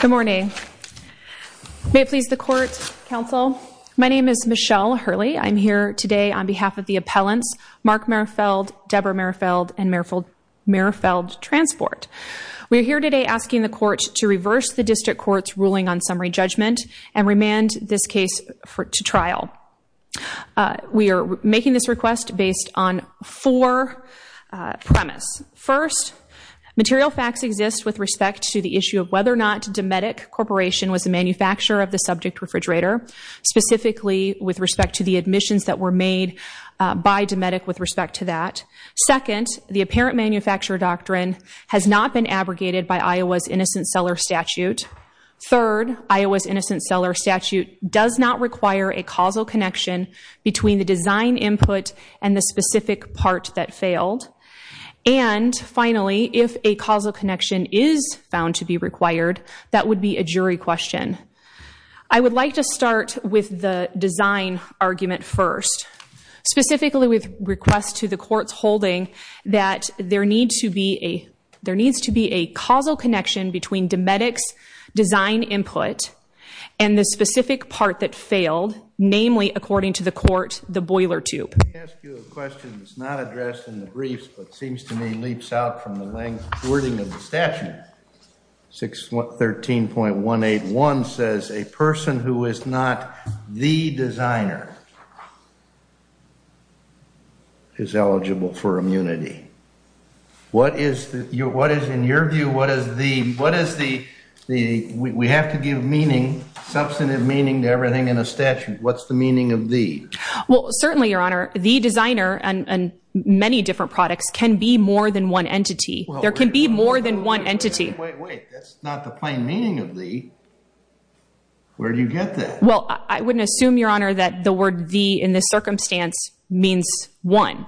Good morning. May it please the court, counsel. My name is Michelle Hurley. I'm here today on behalf of the appellants, Mark Merfeld, Deborah Merfeld, and Merfeld Transport. We're here today asking the court to reverse the district court's ruling on summary judgment and remand this case to trial. We are making this request based on four premise. First, material facts exist with respect to the issue of whether or not Dometic Corporation was the manufacturer of the subject refrigerator, specifically with respect to the admissions that were made by Dometic with respect to that. Second, the apparent manufacturer doctrine has not been abrogated by Iowa's innocent seller statute. Third, Iowa's innocent seller statute does not require a causal connection between the design input and the specific part that failed. And finally, if a causal connection is found to be required, that would be a jury question. I would like to start with the design argument first, specifically with request to the court's holding that there needs to be a causal connection between Dometic's design input and the specific part that failed, namely, according to the court, the boiler tube. Let me ask you a question that's not addressed in the briefs, but seems to me leaps out from the wording of the statute. 613.181 says a person who is not the designer is eligible for immunity. What is, in your view, what is the, we have to give meaning, substantive meaning to everything in a statute. What's the meaning of the? Well, certainly, Your Honor, the designer and many different products can be more than one entity. There can be more than one entity. Wait, wait, that's not the plain meaning of the. Where do you get that? Well, I wouldn't assume, Your Honor, that the word the in this circumstance means one.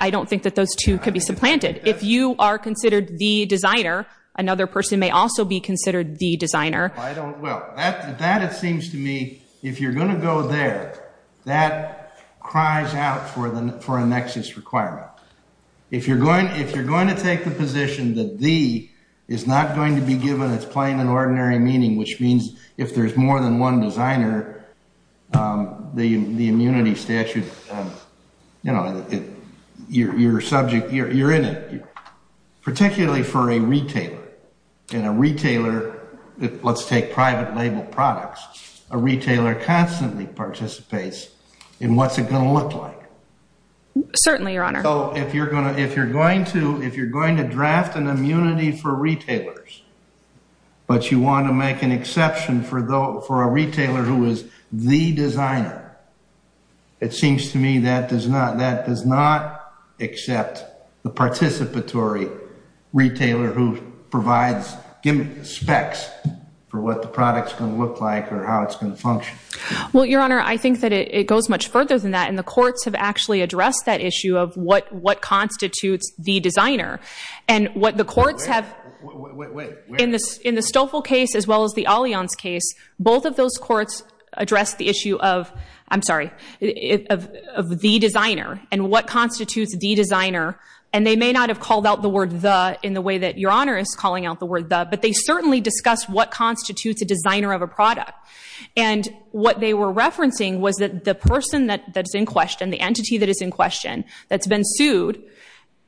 I don't think that those two could be supplanted. If you are considered the designer, another person may also be considered the designer. I don't well, that that it seems to me if you're going to go there. That cries out for them for a nexus requirement. If you're going if you're going to take the position that the. Is not going to be given its plain and ordinary meaning, which means if there's more than 1 designer. The immunity statute. You know, your subject, you're in it. Particularly for a retailer. And a retailer, let's take private label products. A retailer constantly participates in what's it going to look like? Certainly, Your Honor. If you're going to if you're going to, if you're going to draft an immunity for retailers. But you want to make an exception for the for a retailer who is the designer. It seems to me that does not that does not accept the participatory. Retailer who provides give specs for what the product's going to look like or how it's going to function. Well, Your Honor, I think that it goes much further than that. And the courts have actually addressed that issue of what what constitutes the designer and what the courts have. In the Stoffel case, as well as the Allianz case. Both of those courts addressed the issue of, I'm sorry, of the designer and what constitutes the designer. And they may not have called out the word the in the way that Your Honor is calling out the word the. But they certainly discussed what constitutes a designer of a product. And what they were referencing was that the person that that's in question, the entity that is in question. That's been sued,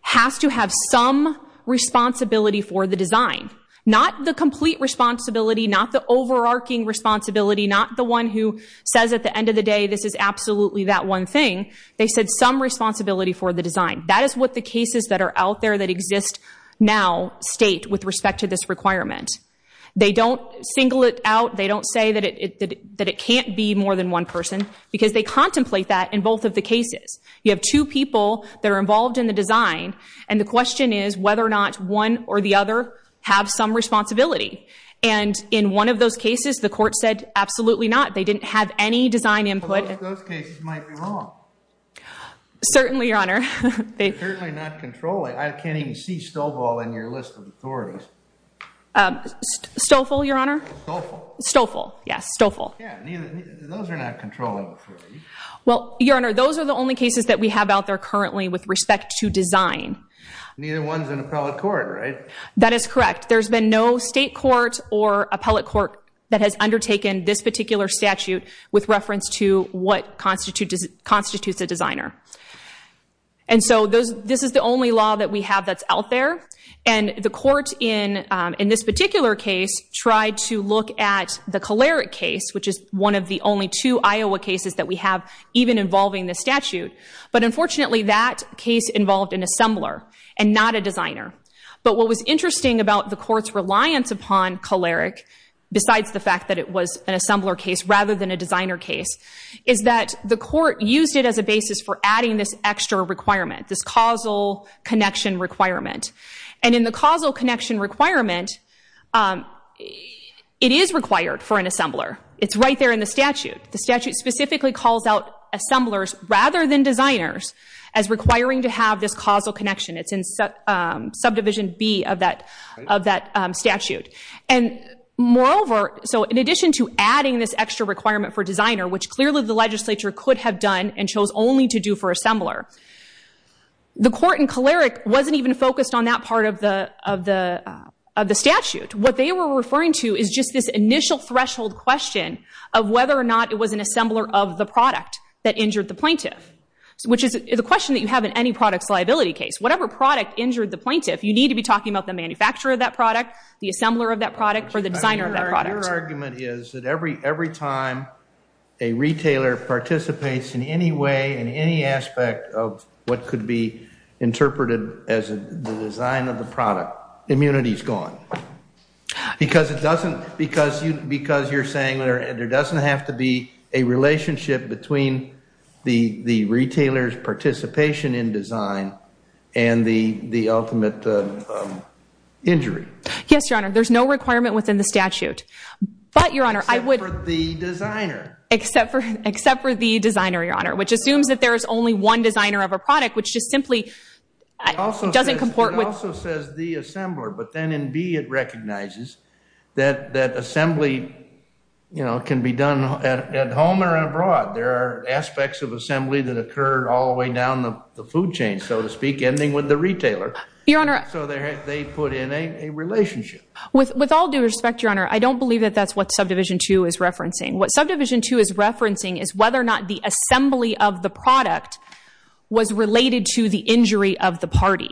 has to have some responsibility for the design. Not the complete responsibility. Not the overarching responsibility. Not the one who says at the end of the day, this is absolutely that one thing. They said some responsibility for the design. That is what the cases that are out there that exist now state with respect to this requirement. They don't single it out. They don't say that it that it can't be more than one person. Because they contemplate that in both of the cases. You have two people that are involved in the design. And the question is whether or not one or the other have some responsibility. And in one of those cases, the court said absolutely not. They didn't have any design input. Those cases might be wrong. Certainly, Your Honor. Certainly not controlling. I can't even see Stofel in your list of authorities. Stofel, Your Honor. Stofel. Stofel. Yes, Stofel. Those are not controlling. Well, Your Honor, those are the only cases that we have out there currently with respect to design. Neither one's in appellate court, right? That is correct. There's been no state court or appellate court that has undertaken this particular statute with reference to what constitutes a designer. And so this is the only law that we have that's out there. And the court in this particular case tried to look at the Kolarik case, which is one of the only two Iowa cases that we have even involving this statute. But unfortunately, that case involved an assembler and not a designer. But what was interesting about the court's reliance upon Kolarik, besides the fact that it was an assembler case rather than a designer case, is that the court used it as a basis for adding this extra requirement, this causal connection requirement. And in the causal connection requirement, it is required for an assembler. It's right there in the statute. The statute specifically calls out assemblers rather than designers as requiring to have this causal connection. It's in subdivision B of that statute. And moreover, so in addition to adding this extra requirement for designer, which clearly the legislature could have done and chose only to do for assembler, the court in Kolarik wasn't even focused on that part of the statute. What they were referring to is just this initial threshold question of whether or not it was an assembler of the product that injured the plaintiff, which is a question that you have in any products liability case. Whatever product injured the plaintiff, you need to be talking about the manufacturer of that product, the assembler of that product, or the designer of that product. Your argument is that every time a retailer participates in any way, in any aspect of what could be interpreted as the design of the product, immunity is gone. Because you're saying there doesn't have to be a relationship between the retailer's participation in design and the ultimate injury. Yes, Your Honor. There's no requirement within the statute. Except for the designer. Except for the designer, Your Honor, which assumes that there is only one designer of a product, which just simply doesn't comport with. It also says the assembler. But then in B it recognizes that assembly can be done at home or abroad. There are aspects of assembly that occur all the way down the food chain, so to speak, ending with the retailer. Your Honor. So they put in a relationship. With all due respect, Your Honor, I don't believe that that's what Subdivision 2 is referencing. What Subdivision 2 is referencing is whether or not the assembly of the product was related to the injury of the party.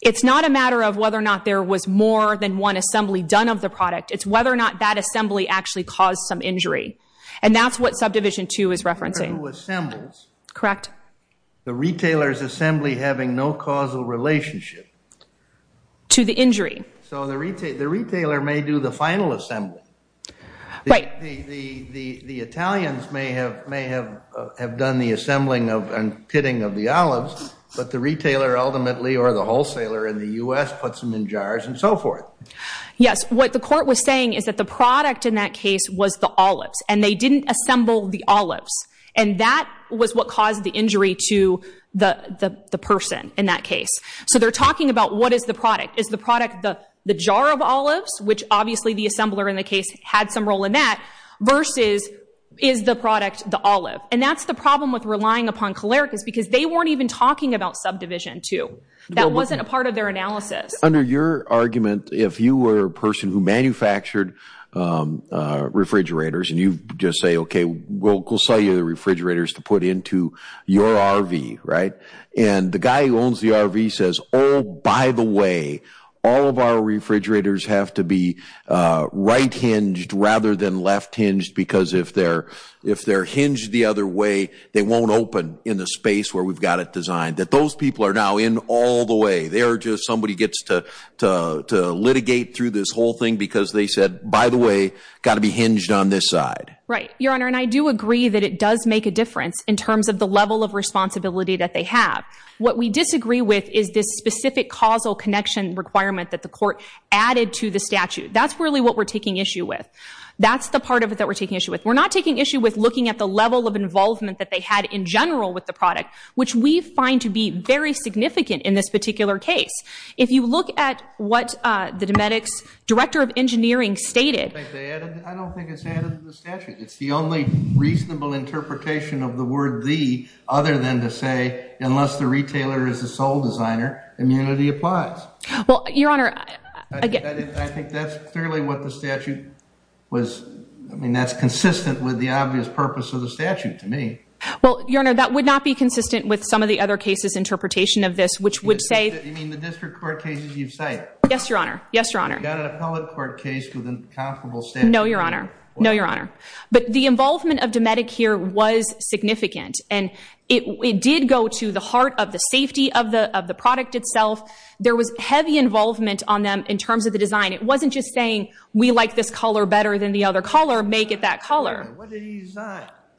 It's not a matter of whether or not there was more than one assembly done of the product. It's whether or not that assembly actually caused some injury. And that's what Subdivision 2 is referencing. Correct. The retailer's assembly having no causal relationship. To the injury. So the retailer may do the final assembly. Right. The Italians may have done the assembling and pitting of the olives, but the retailer ultimately or the wholesaler in the U.S. puts them in jars and so forth. Yes. What the court was saying is that the product in that case was the olives, and they didn't assemble the olives. And that was what caused the injury to the person in that case. So they're talking about what is the product. Is the product the jar of olives, which obviously the assembler in the case had some role in that, versus is the product the olive? And that's the problem with relying upon calericas, because they weren't even talking about Subdivision 2. That wasn't a part of their analysis. Under your argument, if you were a person who manufactured refrigerators and you just say, okay, we'll sell you the refrigerators to put into your RV, right, and the guy who owns the RV says, oh, by the way, all of our refrigerators have to be right hinged rather than left hinged, because if they're hinged the other way, they won't open in the space where we've got it designed, that those people are now in all the way. They're just somebody gets to litigate through this whole thing because they said, by the way, got to be hinged on this side. Right, Your Honor, and I do agree that it does make a difference in terms of the level of responsibility that they have. What we disagree with is this specific causal connection requirement that the court added to the statute. That's really what we're taking issue with. That's the part of it that we're taking issue with. We're not taking issue with looking at the level of involvement that they had in general with the product, which we find to be very significant in this particular case. If you look at what the Dometics Director of Engineering stated, I don't think it's added to the statute. It's the only reasonable interpretation of the word the, other than to say, unless the retailer is a sole designer, immunity applies. Well, Your Honor, I think that's clearly what the statute was. I mean, that's consistent with the obvious purpose of the statute to me. Well, Your Honor, that would not be consistent with some of the other cases interpretation of this, which would say. You mean the district court cases you've cited? Yes, Your Honor. Yes, Your Honor. We've got an appellate court case with an incomparable statute. No, Your Honor. No, Your Honor. But the involvement of Dometic here was significant. And it did go to the heart of the safety of the, of the product itself. There was heavy involvement on them in terms of the design. It wasn't just saying we like this color better than the other color, make it that color.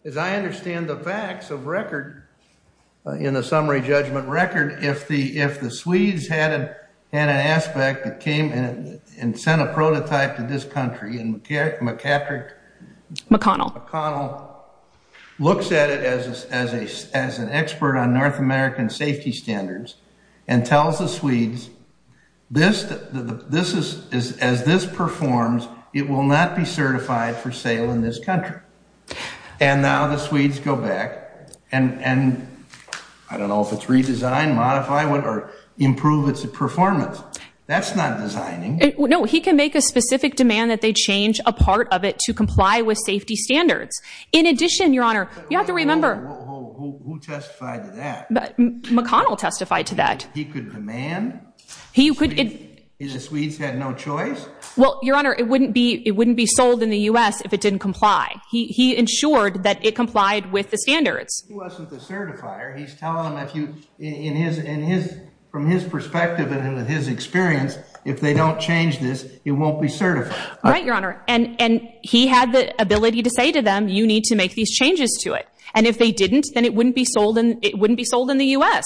As I understand the facts of record. In the summary judgment record. If the, If the Swedes had an aspect that came in and sent a prototype to this country and McCatrick. McConnell. McConnell looks at it as a, as an expert on North American safety standards and tells the Swedes. This, this is, as this performs, it will not be certified for sale in this country. And now the Swedes go back and, and I don't know if it's redesigned, modify what or improve its performance. That's not designing. No, he can make a specific demand that they change a part of it to comply with safety standards. In addition, Your Honor, you have to remember. Who testified to that? McConnell testified to that. He could demand. He could. The Swedes had no choice. Well, Your Honor, it wouldn't be, it wouldn't be sold in the U S if it didn't comply. He, he ensured that it complied with the standards. He wasn't the certifier. He's telling them if you, in his, in his, from his perspective and with his experience, if they don't change this, it won't be certified. Right. Your Honor. And, and he had the ability to say to them, you need to make these changes to it. And if they didn't, then it wouldn't be sold. And it wouldn't be sold in the U S.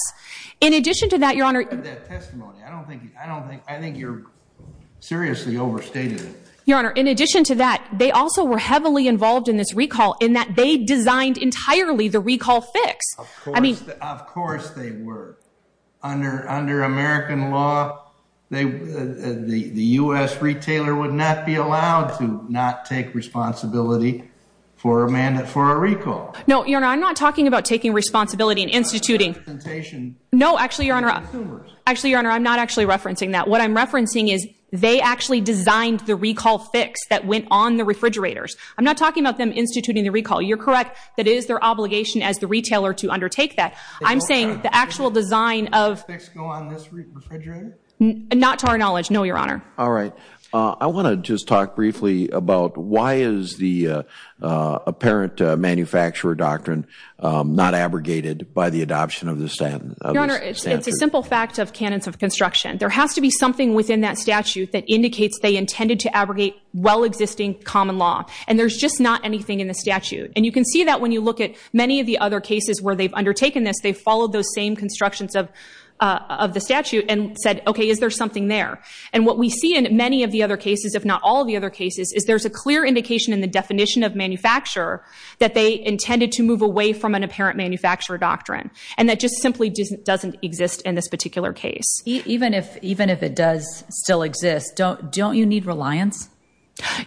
In addition to that, Your Honor. I don't think, I don't think, I think you're seriously overstated. Your Honor. In addition to that, they also were heavily involved in this recall in that they designed entirely the recall fix. I mean, of course they were under, under American law. They, the, the U S retailer would not be allowed to not take responsibility for Amanda, for a recall. No, Your Honor. I'm not talking about taking responsibility and instituting. No, actually, Your Honor. Actually, Your Honor. I'm not actually referencing that. What I'm referencing is they actually designed the recall fix that went on the refrigerators. I'm not talking about them instituting the recall. You're correct. That is their obligation as the retailer to undertake that. I'm saying the actual design of not to our knowledge. No, Your Honor. All right. I want to just talk briefly about why is the apparent manufacturer doctrine not abrogated by the adoption of the standard? It's a simple fact of cannons of construction. There has to be something within that statute that indicates they intended to abrogate well existing common law. And there's just not anything in the statute. And you can see that when you look at many of the other cases where they've undertaken this, they followed those same constructions of the statute and said, okay, is there something there? And what we see in many of the other cases, if not all of the other cases, is there's a clear indication in the definition of manufacturer that they intended to move away from an apparent manufacturer doctrine. And that just simply doesn't exist in this particular case. Even if it does still exist, don't you need reliance?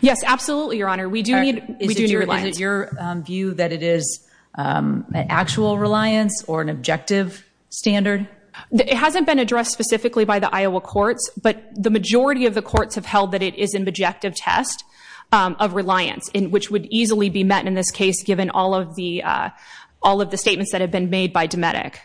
Yes, absolutely, Your Honor. We do need reliance. Is it your view that it is an actual reliance or an objective standard? It hasn't been addressed specifically by the Iowa courts, but the majority of the courts have held that it is an objective test of reliance, which would easily be met in this case, given all of the statements that have been made by Dometic.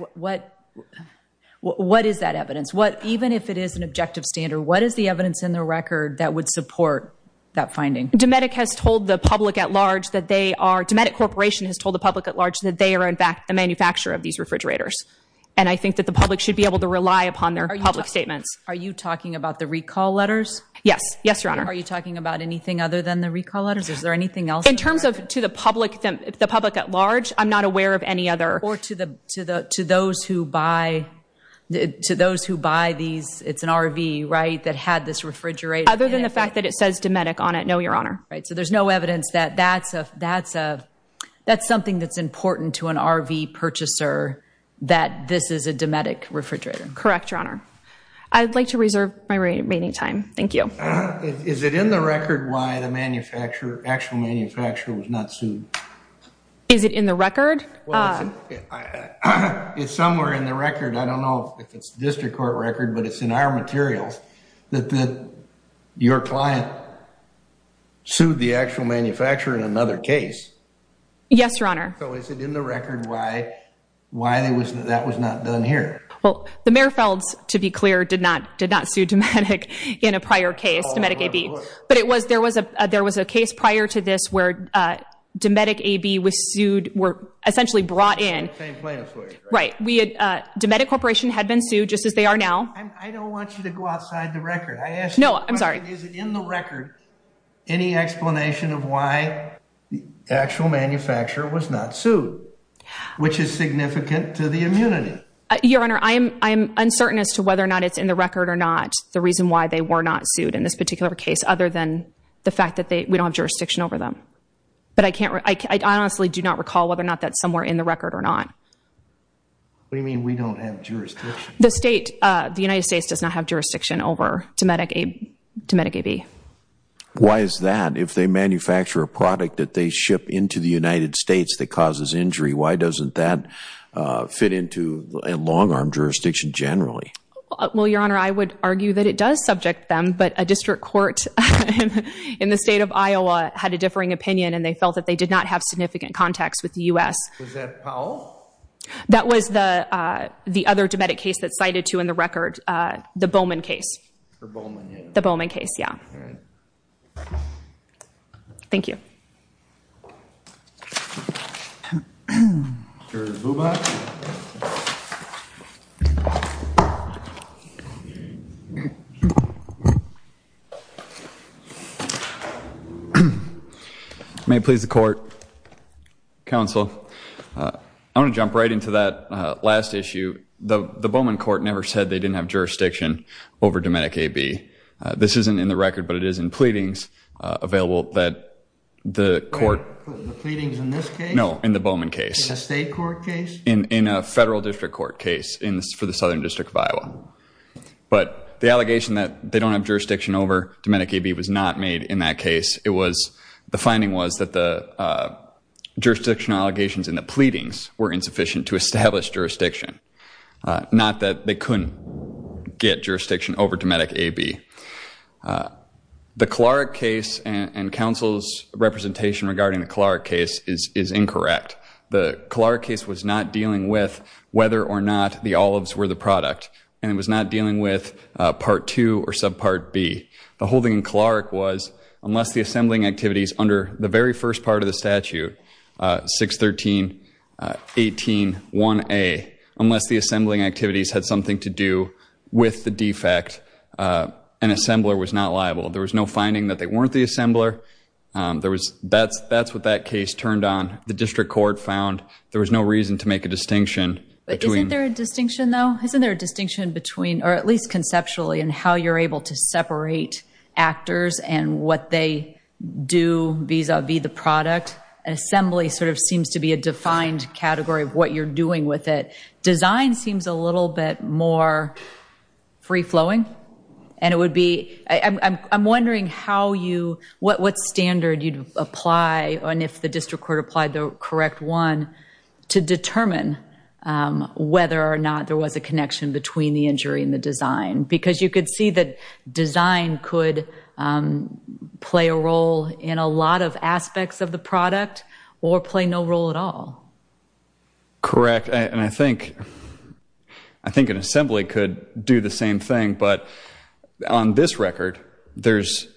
What is that evidence? Even if it is an objective standard, what is the evidence in the record that would support that finding? Dometic has told the public at large that they are, Dometic Corporation has told the public at large that they are, in fact, the manufacturer of these refrigerators. And I think that the public should be able to rely upon their public statements. Are you talking about the recall letters? Yes. Yes, Your Honor. Are you talking about anything other than the recall letters? Is there anything else? In terms of, to the public, the public at large, I'm not aware of any other. Or to the, to the, to those who buy, to those who buy these, it's an RV, right? That had this refrigerator. Other than the fact that it says Dometic on it. No, Your Honor. Right. So there's no evidence that that's a, that's a, that's something that's important to an RV purchaser, that this is a Dometic refrigerator. Correct. Your Honor. I'd like to reserve my remaining time. Thank you. Is it in the record? Why the manufacturer, actual manufacturer was not sued. Is it in the record? It's somewhere in the record. I don't know if it's district court record, but it's in our materials. If it is in the record, it's a matter of fact that your client sued the actual manufacturer in another case. Yes, Your Honor. So is it in the record? Why, why that was not done here? Well, the Mayor Felds, to be clear, did not, did not sue Dometic in a prior case to Medic AB, but it was there was a, there was a case prior to this where Dometic AB was sued. Were essentially brought in. Right. Dometic corporation had been sued just as they are now. I don't want you to go outside the record. I asked. No, I'm sorry. Is it in the record? Any explanation of why the actual manufacturer was not sued, which is significant to the immunity. Your Honor. I am. I am uncertain as to whether or not it's in the record or not. The reason why they were not sued in this particular case, other than the fact that they, we don't have jurisdiction over them, but I can't, I honestly do not recall whether or not that somewhere in the record or not. What do you mean? We don't have jurisdiction. The state, the United States does not have jurisdiction over Dometic AB. Dometic AB. Why is that? If they manufacture a product that they ship into the United States that causes injury, why doesn't that fit into a long arm jurisdiction generally? Well, your Honor, I would argue that it does subject them, but a district court in the state of Iowa had a differing opinion and they felt that they did not have significant context with the U.S. Was that Powell? That was the, the other Dometic case that cited to in the record, the Bowman case. The Bowman case. Yeah. All right. Thank you. May please the court. Counsel, uh, I want to jump right into that last issue. The Bowman court never said they didn't have jurisdiction over Dometic AB. Uh, this isn't in the record, but it is in pleadings, uh, available that the court. The pleadings in this case? No, in the Bowman case. In the state court case? In, in a federal district court case in, for the Southern district of Iowa. But the allegation that they don't have jurisdiction over Dometic AB was not made in that case. It was, the finding was that the, uh, jurisdiction allegations in the pleadings were insufficient to establish jurisdiction. Uh, not that they couldn't get jurisdiction over Dometic AB. Uh, the Clark case and, and counsel's representation regarding the Clark case is, is incorrect. The Clark case was not dealing with whether or not the olives were the product. And it was not dealing with, uh, part two or subpart B the holding in Clark was unless the assembling activities under the very first part of the statute, uh, six 13, uh, 18 one a, unless the assembling activities had something to do with the defect, uh, an assembler was not liable. There was no finding that they weren't the assembler. Um, there was, that's, that's what that case turned on. The district court found there was no reason to make a distinction. Isn't there a distinction though? Isn't there a distinction between, or at least conceptually and how you're able to separate actors and what they do vis-a-vis the product assembly sort of seems to be a defined category of what you're doing with it. Design seems a little bit more free flowing and it would be, I'm, I'm wondering how you, what, what standard you'd apply on if the district court applied the correct one to determine, um, whether or not there was a connection between the injury and the design, because you could see that design could, um, play a role in a lot of aspects of the product or play no role at all. Correct. And I think, I think an assembly could do the same thing, but on this record, there's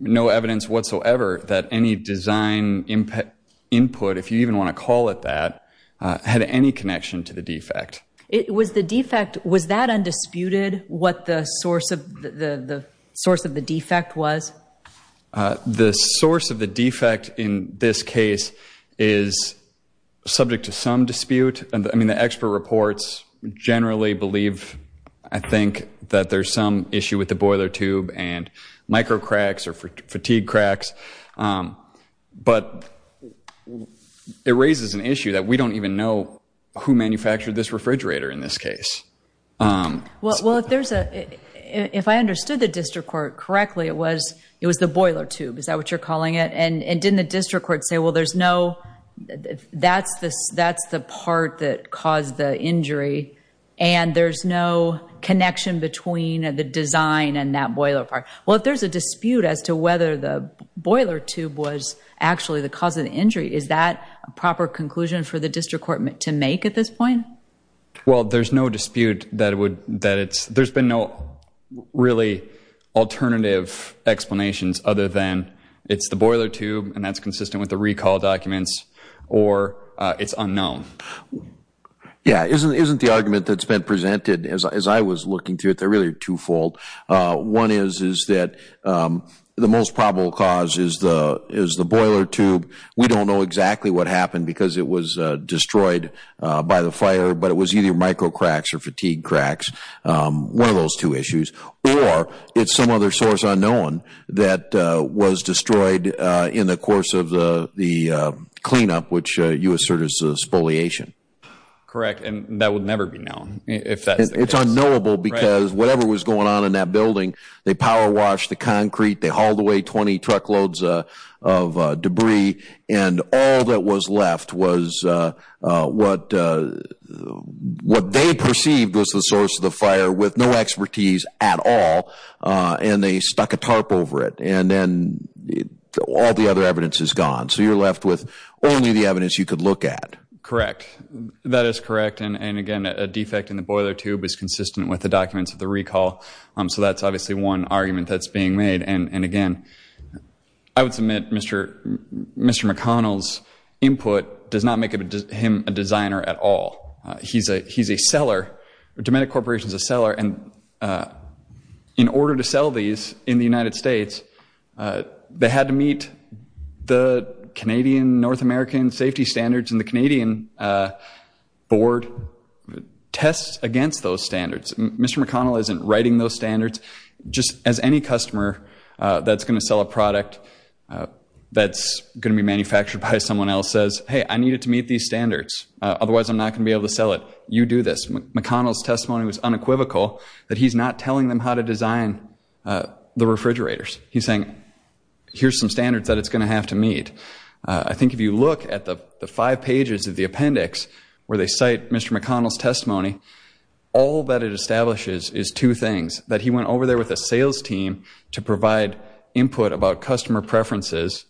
no evidence whatsoever that any design impact input, if you even want to call it that, uh, had any connection to the defect. It was the defect. Was that undisputed? What the source of the, the source of the defect was, uh, the source of the defect in this case is subject to some dispute. And I mean, the expert reports generally believe, I think that there's some issue with the boiler tube and micro cracks or fatigue cracks. Um, but it raises an issue that we don't even know who manufactured this Well, if there's a, if I understood the district court correctly, it was, it was the boiler tube. Is that what you're calling it? And, and didn't the district court say, well, there's no, that's the, that's the part that caused the injury and there's no connection between the design and that boiler part. Well, if there's a dispute as to whether the boiler tube was actually the cause of the injury, is that a proper conclusion for the district court to make at this point? Well, there's no dispute that it would, that it's, there's been no really alternative explanations other than it's the boiler tube. And that's consistent with the recall documents or, uh, it's unknown. Yeah. Isn't, isn't the argument that's been presented as, as I was looking through it, they're really twofold. Uh, one is, is that, um, the most probable cause is the, is the boiler tube. We don't know exactly what happened because it was, uh, destroyed, uh, by the fire, but it was either micro cracks or fatigue cracks. Um, one of those two issues, or it's some other source unknown that, uh, was destroyed, uh, in the course of the, the, uh, cleanup, which, uh, you assert is a spoliation. Correct. And that would never be known if that's, it's unknowable because whatever was going on in that building, they power wash the concrete, they hauled away 20 truckloads, uh, of, uh, debris. And all that was left was, uh, uh, what, uh, what they perceived was the source of the fire with no expertise at all. Uh, and they stuck a tarp over it and then all the other evidence is gone. So you're left with only the evidence you could look at. Correct. That is correct. And, and again, a defect in the boiler tube is consistent with the documents of the recall. Um, so that's obviously one argument that's being made. And, and again, I would submit Mr. Mr. McConnell's input does not make him a designer at all. Uh, he's a, he's a seller. Dometic Corporation is a seller. And, uh, in order to sell these in the United States, uh, they had to meet the Canadian North American safety standards and the Canadian, uh, board tests against those standards. Mr. McConnell isn't writing those standards just as any customer, uh, that's going to sell a product, uh, that's going to be manufactured by someone else says, Hey, I need it to meet these standards. Uh, otherwise I'm not going to be able to sell it. You do this. McConnell's testimony was unequivocal that he's not telling them how to design, uh, the refrigerators. He's saying, here's some standards that it's going to have to meet. Uh, I think if you look at the five pages of the appendix where they cite Mr. McConnell's testimony, all that it establishes is two things that he went over there with a sales team to provide input about customer preferences.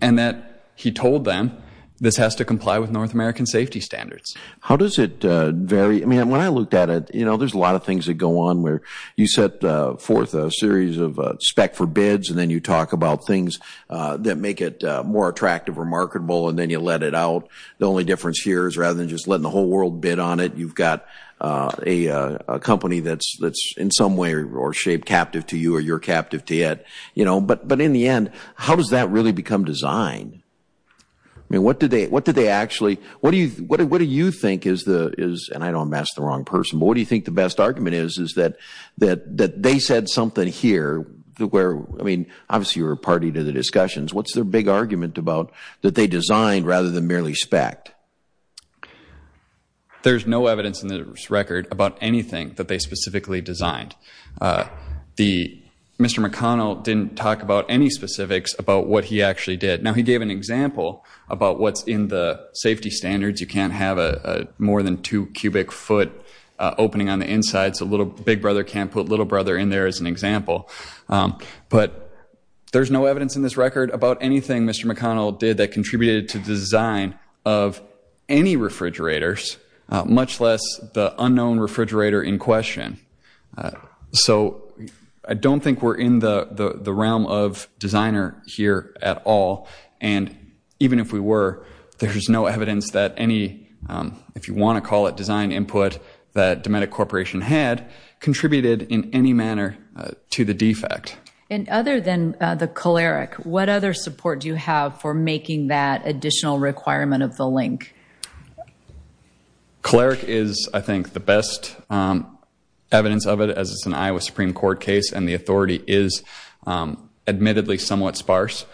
And that he told them this has to comply with North American safety standards. How does it, uh, vary? I mean, when I looked at it, you know, there's a lot of things that go on where you set, uh, fourth, a series of, uh, spec for bids. And then you talk about things, uh, that make it, uh, more attractive or marketable. And then you let it out. The only difference here is rather than just letting the whole world bid on it, you've got, uh, a, a company that's, that's in some way or shape captive to you or you're captive to it, you know, but, but in the end, how does that really become designed? I mean, what did they, what did they actually, what do you, what do, what do you think is the, is, and I know I'm asking the wrong person, but what do you think the best argument is, is that, that, that they said something here where, I mean, obviously you're a party to the discussions. What's their big argument about that they designed rather than merely spacked? There's no evidence in this record about anything that they specifically designed. Uh, the, Mr. McConnell didn't talk about any specifics about what he actually did. Now, he gave an example about what's in the safety standards. You can't have a, a more than two cubic foot, uh, opening on the inside. So a little big brother can't put little brother in there as an example. Um, but there's no evidence in this record about anything Mr. McConnell did that contributed to design of any refrigerators, uh, much less the unknown refrigerator in question. Uh, so I don't think we're in the, the, the realm of designer here at all. And even if we were, there's no evidence that any, um, if you want to call it design input that Dometic corporation had contributed in any manner, uh, to the defect. And other than, uh, the choleric, what other support do you have for making that additional requirement of the link? Cleric is, I think the best, um, evidence of it as it's an Iowa Supreme court case and the authority is, um, admittedly somewhat sparse.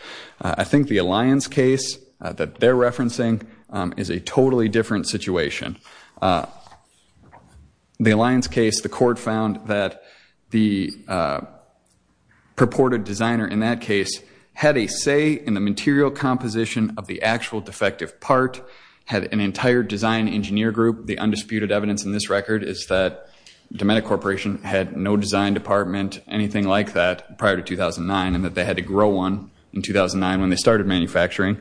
Uh, I think the Alliance case that they're referencing, um, is a totally different situation. Uh, the Alliance case, the court found that the, uh, purported designer in that case had a say in the material composition of the actual defective part had an entire design engineer group. The undisputed evidence in this record is that Dometic corporation had no design department, anything like that prior to 2009 and that they had to grow one in 2009 when they started manufacturing,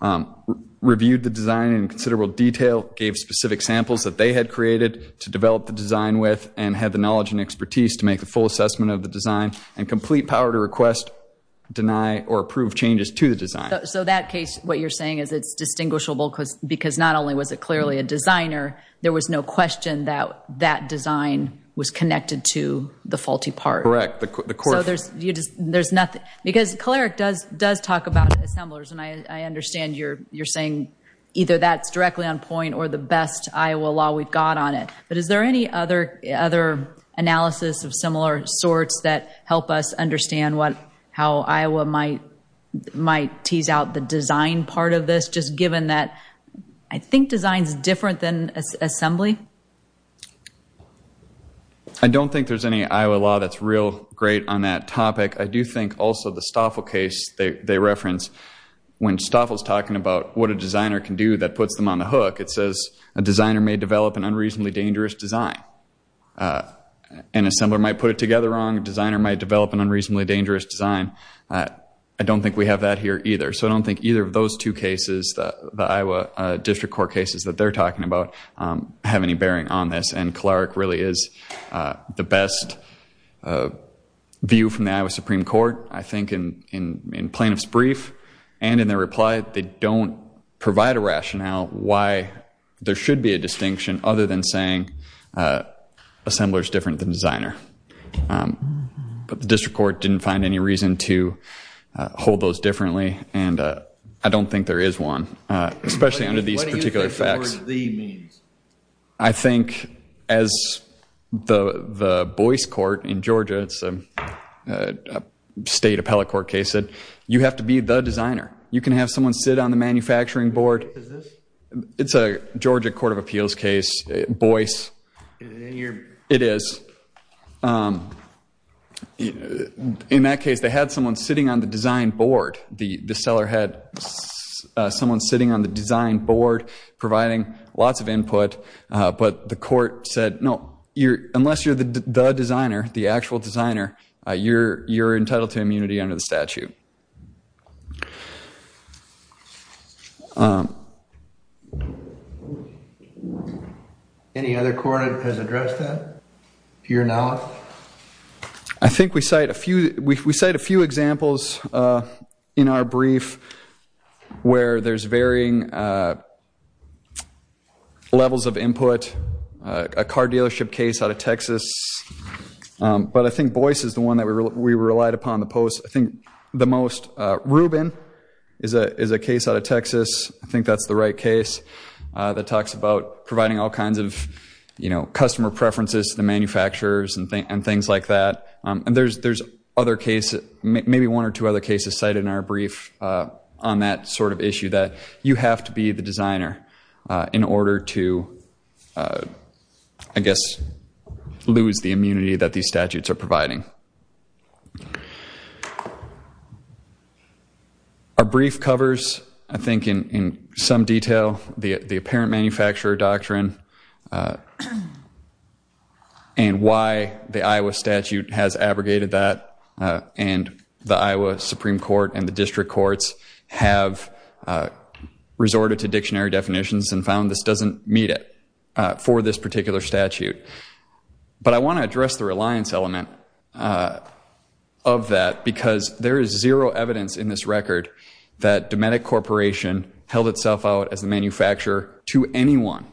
um, reviewed the design in considerable detail, gave specific samples that they had created to develop the design with and had the knowledge and expertise to make the full assessment of the design and complete power to request, deny or approve changes to the design. So that case, what you're saying is it's distinguishable because, because not only was it clearly a designer, there was no question that that design was connected to the faulty part. Correct. So there's, you just, there's nothing because Cleric does, does talk about assemblers and I, I understand you're, you're saying either that's directly on point or the best Iowa law we've got on it, but is there any other, other analysis of similar sorts that help us understand what, how Iowa might, might tease out the design part of this, just given that I think design's different than assembly. I don't think there's any Iowa law that's real great on that topic. I do think also the Stoffel case they, they reference when Stoffel is talking about what a designer can do that puts them on the hook. It says a designer may develop an unreasonably dangerous design. An assembler might put it together wrong. A designer might develop an unreasonably dangerous design. I don't think we have that here either. So I don't think either of those two cases, the Iowa district court cases that they're talking about have any bearing on this. And Cleric really is the best view from the Iowa Supreme Court, I think in, in plaintiff's brief and in their reply, they don't provide a rationale why there should be a distinction other than saying assembler's different than designer. But the district court didn't find any reason to hold those differently. And I don't think there is one, especially under these particular facts. I think as the, the Boyce court in Georgia, it's a state appellate court case that you have to be the designer. You can have someone sit on the manufacturing board. It's a Georgia court of appeals case, Boyce. It is. In that case, they had someone sitting on the design board. The seller had someone sitting on the design board, providing lots of input. But the court said, no, unless you're the designer, the actual designer, you're entitled to immunity under the statute. Thank you. Any other court has addressed that? I think we cite a few, we cite a few examples in our brief where there's varying levels of input, a car dealership case out of Texas. But I think Boyce is the one that we relied upon the post. I think the most, Rubin is a case out of Texas. I think that's the right case that talks about providing all kinds of, you know, customer preferences to the manufacturers and things like that. And there's other cases, maybe one or two other cases cited in our brief on that sort of issue that you have to be the designer in order to, I guess, lose the immunity that these statutes are providing. Our brief covers, I think, in some detail, the apparent manufacturer doctrine and why the Iowa statute has abrogated that. And the Iowa Supreme Court and the district courts have resorted to dictionary But I want to address the reliance element of that because there is zero evidence in this record that Dometic Corporation held itself out as a manufacturer to anyone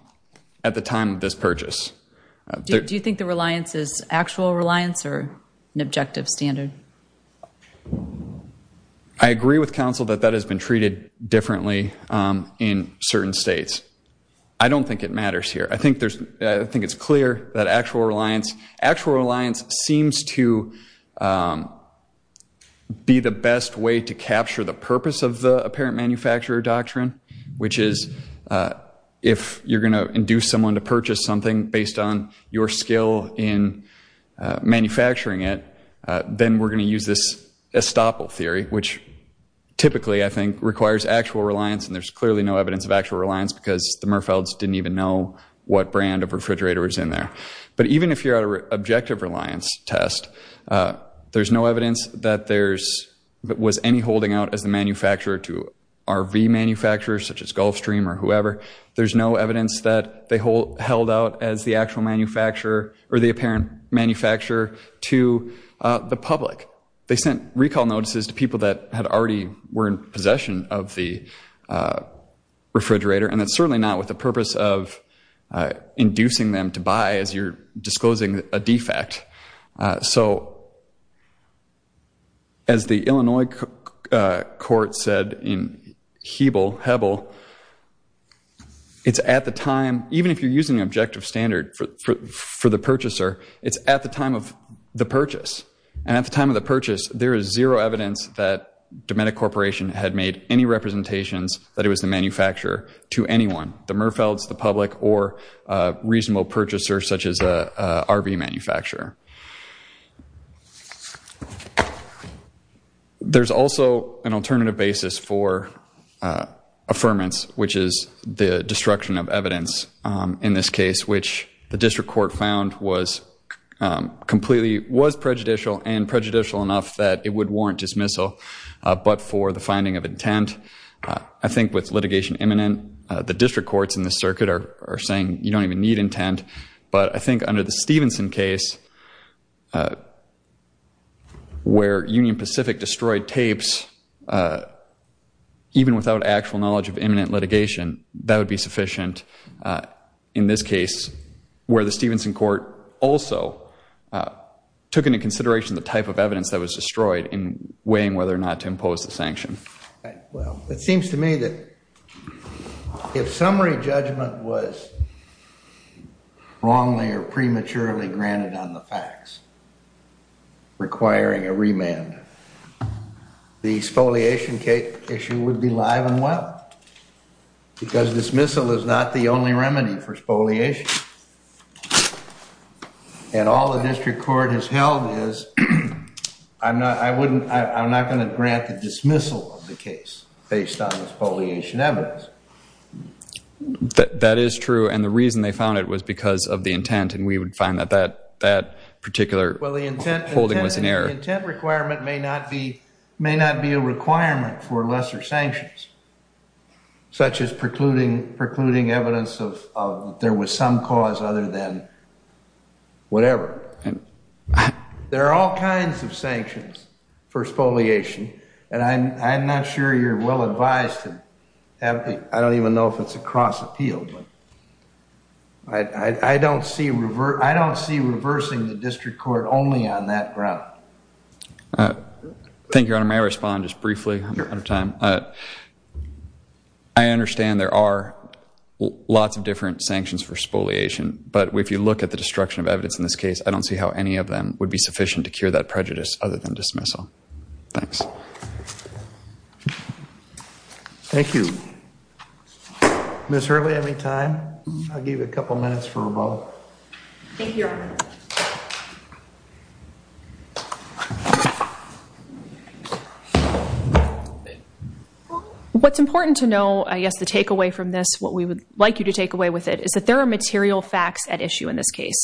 at the time of this purchase. Do you think the reliance is actual reliance or an objective standard? I agree with counsel that that has been treated differently in certain states. I don't think it matters here. I think it's clear that actual reliance seems to be the best way to capture the purpose of the apparent manufacturer doctrine, which is if you're going to induce someone to purchase something based on your skill in manufacturing it, then we're going to use this estoppel theory, which typically, I think, requires actual reliance. And there's clearly no evidence of actual reliance because the Merfelds didn't even know what brand of refrigerator was in there. But even if you're at an objective reliance test, there's no evidence that there was any holding out as the manufacturer to RV manufacturers, such as Gulfstream or whoever. There's no evidence that they held out as the actual manufacturer or the apparent manufacturer to the public. They sent recall notices to people that had already were in possession of the refrigerator, and that's certainly not with the purpose of inducing them to buy as you're disclosing a defect. So as the Illinois court said in Hebel, it's at the time, even if you're using the objective standard for the purchaser, it's at the time of the purchase. And at the time of the purchase, there is zero evidence that Dometic Corporation had made any representations that it was the manufacturer to anyone, the Merfelds, the public, or a reasonable purchaser such as a RV manufacturer. There's also an alternative basis for affirmance, which is the destruction of evidence in this case, which the district court found was completely was prejudicial and prejudicial enough that it would warrant dismissal. But for the finding of intent, I think with litigation imminent, the district courts in the circuit are saying you don't even need intent. But I think under the Stevenson case where Union Pacific destroyed tapes, even without actual knowledge of imminent litigation, that would be sufficient. In this case, where the Stevenson court also took into consideration the type of evidence that was destroyed in weighing whether or not to impose the sanction. Well, it seems to me that if summary judgment was wrongly or prematurely granted on the facts, requiring a remand, the exfoliation issue would be live and well. Because dismissal is not the only remedy for exfoliation. And all the district court has held is, I'm not going to grant the dismissal of the case based on exfoliation evidence. That is true, and the reason they found it was because of the intent, and we would find that that particular holding was an error. The intent requirement may not be a requirement for lesser sanctions, such as precluding evidence of there was some cause other than whatever. There are all kinds of sanctions for exfoliation, and I'm not sure you're well advised to have the, I don't even know if it's a cross appeal, but I don't see reversing the district court only on that ground. Thank you, Your Honor, may I respond just briefly? I'm out of time. I understand there are lots of different sanctions for exfoliation, but if you look at the destruction of evidence in this case, I don't see how any of them would be sufficient to cure that prejudice other than dismissal. Thanks. Thank you. Ms. Hurley, any time? I'll give you a couple minutes for a vote. Thank you, Your Honor. What's important to know, I guess, the takeaway from this, what we would like you to take away with it, is that there are material facts at issue in this case.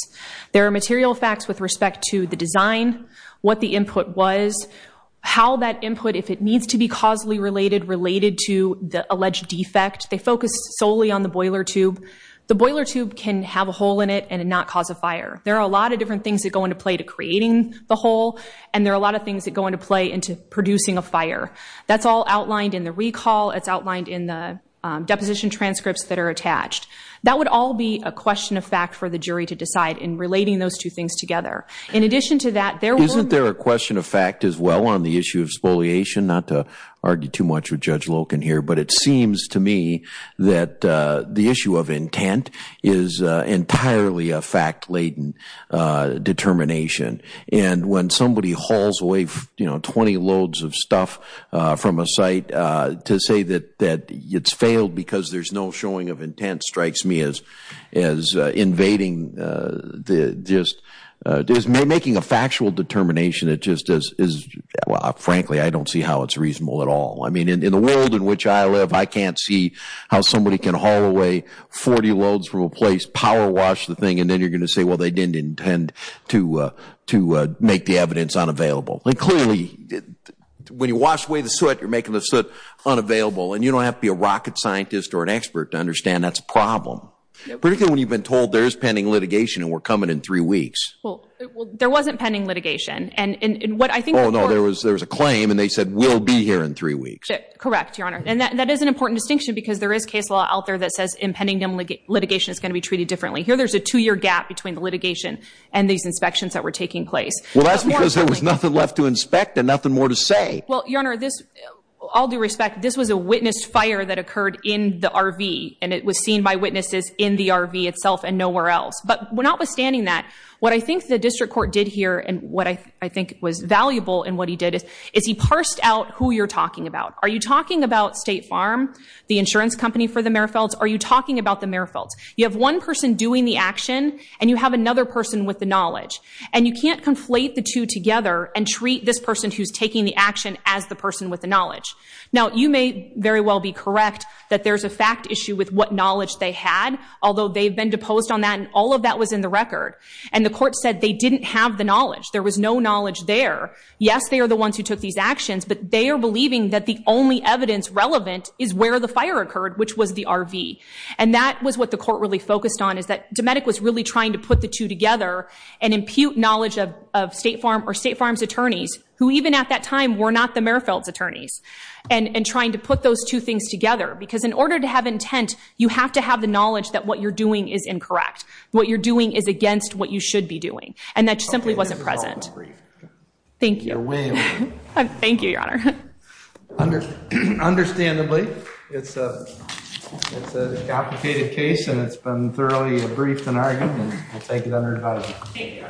There are material facts with respect to the design, what the input was, how that input, if it needs to be causally related, related to the alleged defect. They focused solely on the boiler tube. The boiler tube can have a hole in it and not cause a fire. There are a lot of different things that go into play to creating the hole, and there are a lot of things that go into play into producing a fire. That's all outlined in the recall. It's outlined in the deposition transcripts that are attached. That would all be a question of fact for the jury to decide in relating those two things together. Isn't there a question of fact as well on the issue of spoliation? Not to argue too much with Judge Loken here, but it seems to me that the issue of intent is entirely a fact-laden determination. And when somebody hauls away 20 loads of stuff from a site to say that it's failed because there's no showing of intent strikes me as invading. Making a factual determination, frankly, I don't see how it's reasonable at all. In the world in which I live, I can't see how somebody can haul away 40 loads from a place, power wash the thing, and then you're going to say, well, they didn't intend to make the evidence unavailable. Clearly, when you wash away the soot, you're making the soot unavailable, and you don't have to be a rocket scientist or an expert to understand that's a problem, particularly when you've been told there is pending litigation and we're coming in three weeks. Well, there wasn't pending litigation. Oh, no, there was a claim, and they said we'll be here in three weeks. Correct, Your Honor. And that is an important distinction because there is case law out there that says impending litigation is going to be treated differently. Here there's a two-year gap between the litigation and these inspections that were taking place. Well, that's because there was nothing left to inspect and nothing more to say. Well, Your Honor, all due respect, this was a witness fire that occurred in the RV, and it was seen by witnesses in the RV itself and nowhere else. But notwithstanding that, what I think the district court did here and what I think was valuable in what he did is he parsed out who you're talking about. Are you talking about State Farm, the insurance company for the Merrifields? Are you talking about the Merrifields? You have one person doing the action, and you have another person with the knowledge, and you can't conflate the two together and treat this person who's taking the action as the person with the knowledge. Now, you may very well be correct that there's a fact issue with what knowledge they had, although they've been deposed on that, and all of that was in the record. And the court said they didn't have the knowledge. There was no knowledge there. Yes, they are the ones who took these actions, but they are believing that the only evidence relevant is where the fire occurred, which was the RV. And that was what the court really focused on, is that Dometic was really trying to put the two together and impute knowledge of State Farm or State Farm's attorneys, who even at that time were not the Merrifields' attorneys, and trying to put those two things together. Because in order to have intent, you have to have the knowledge that what you're doing is incorrect, what you're doing is against what you should be doing, and that simply wasn't present. Thank you. Thank you, Your Honor. Understandably, it's a complicated case, and it's been thoroughly briefed and argued, and I'll take it under advisement.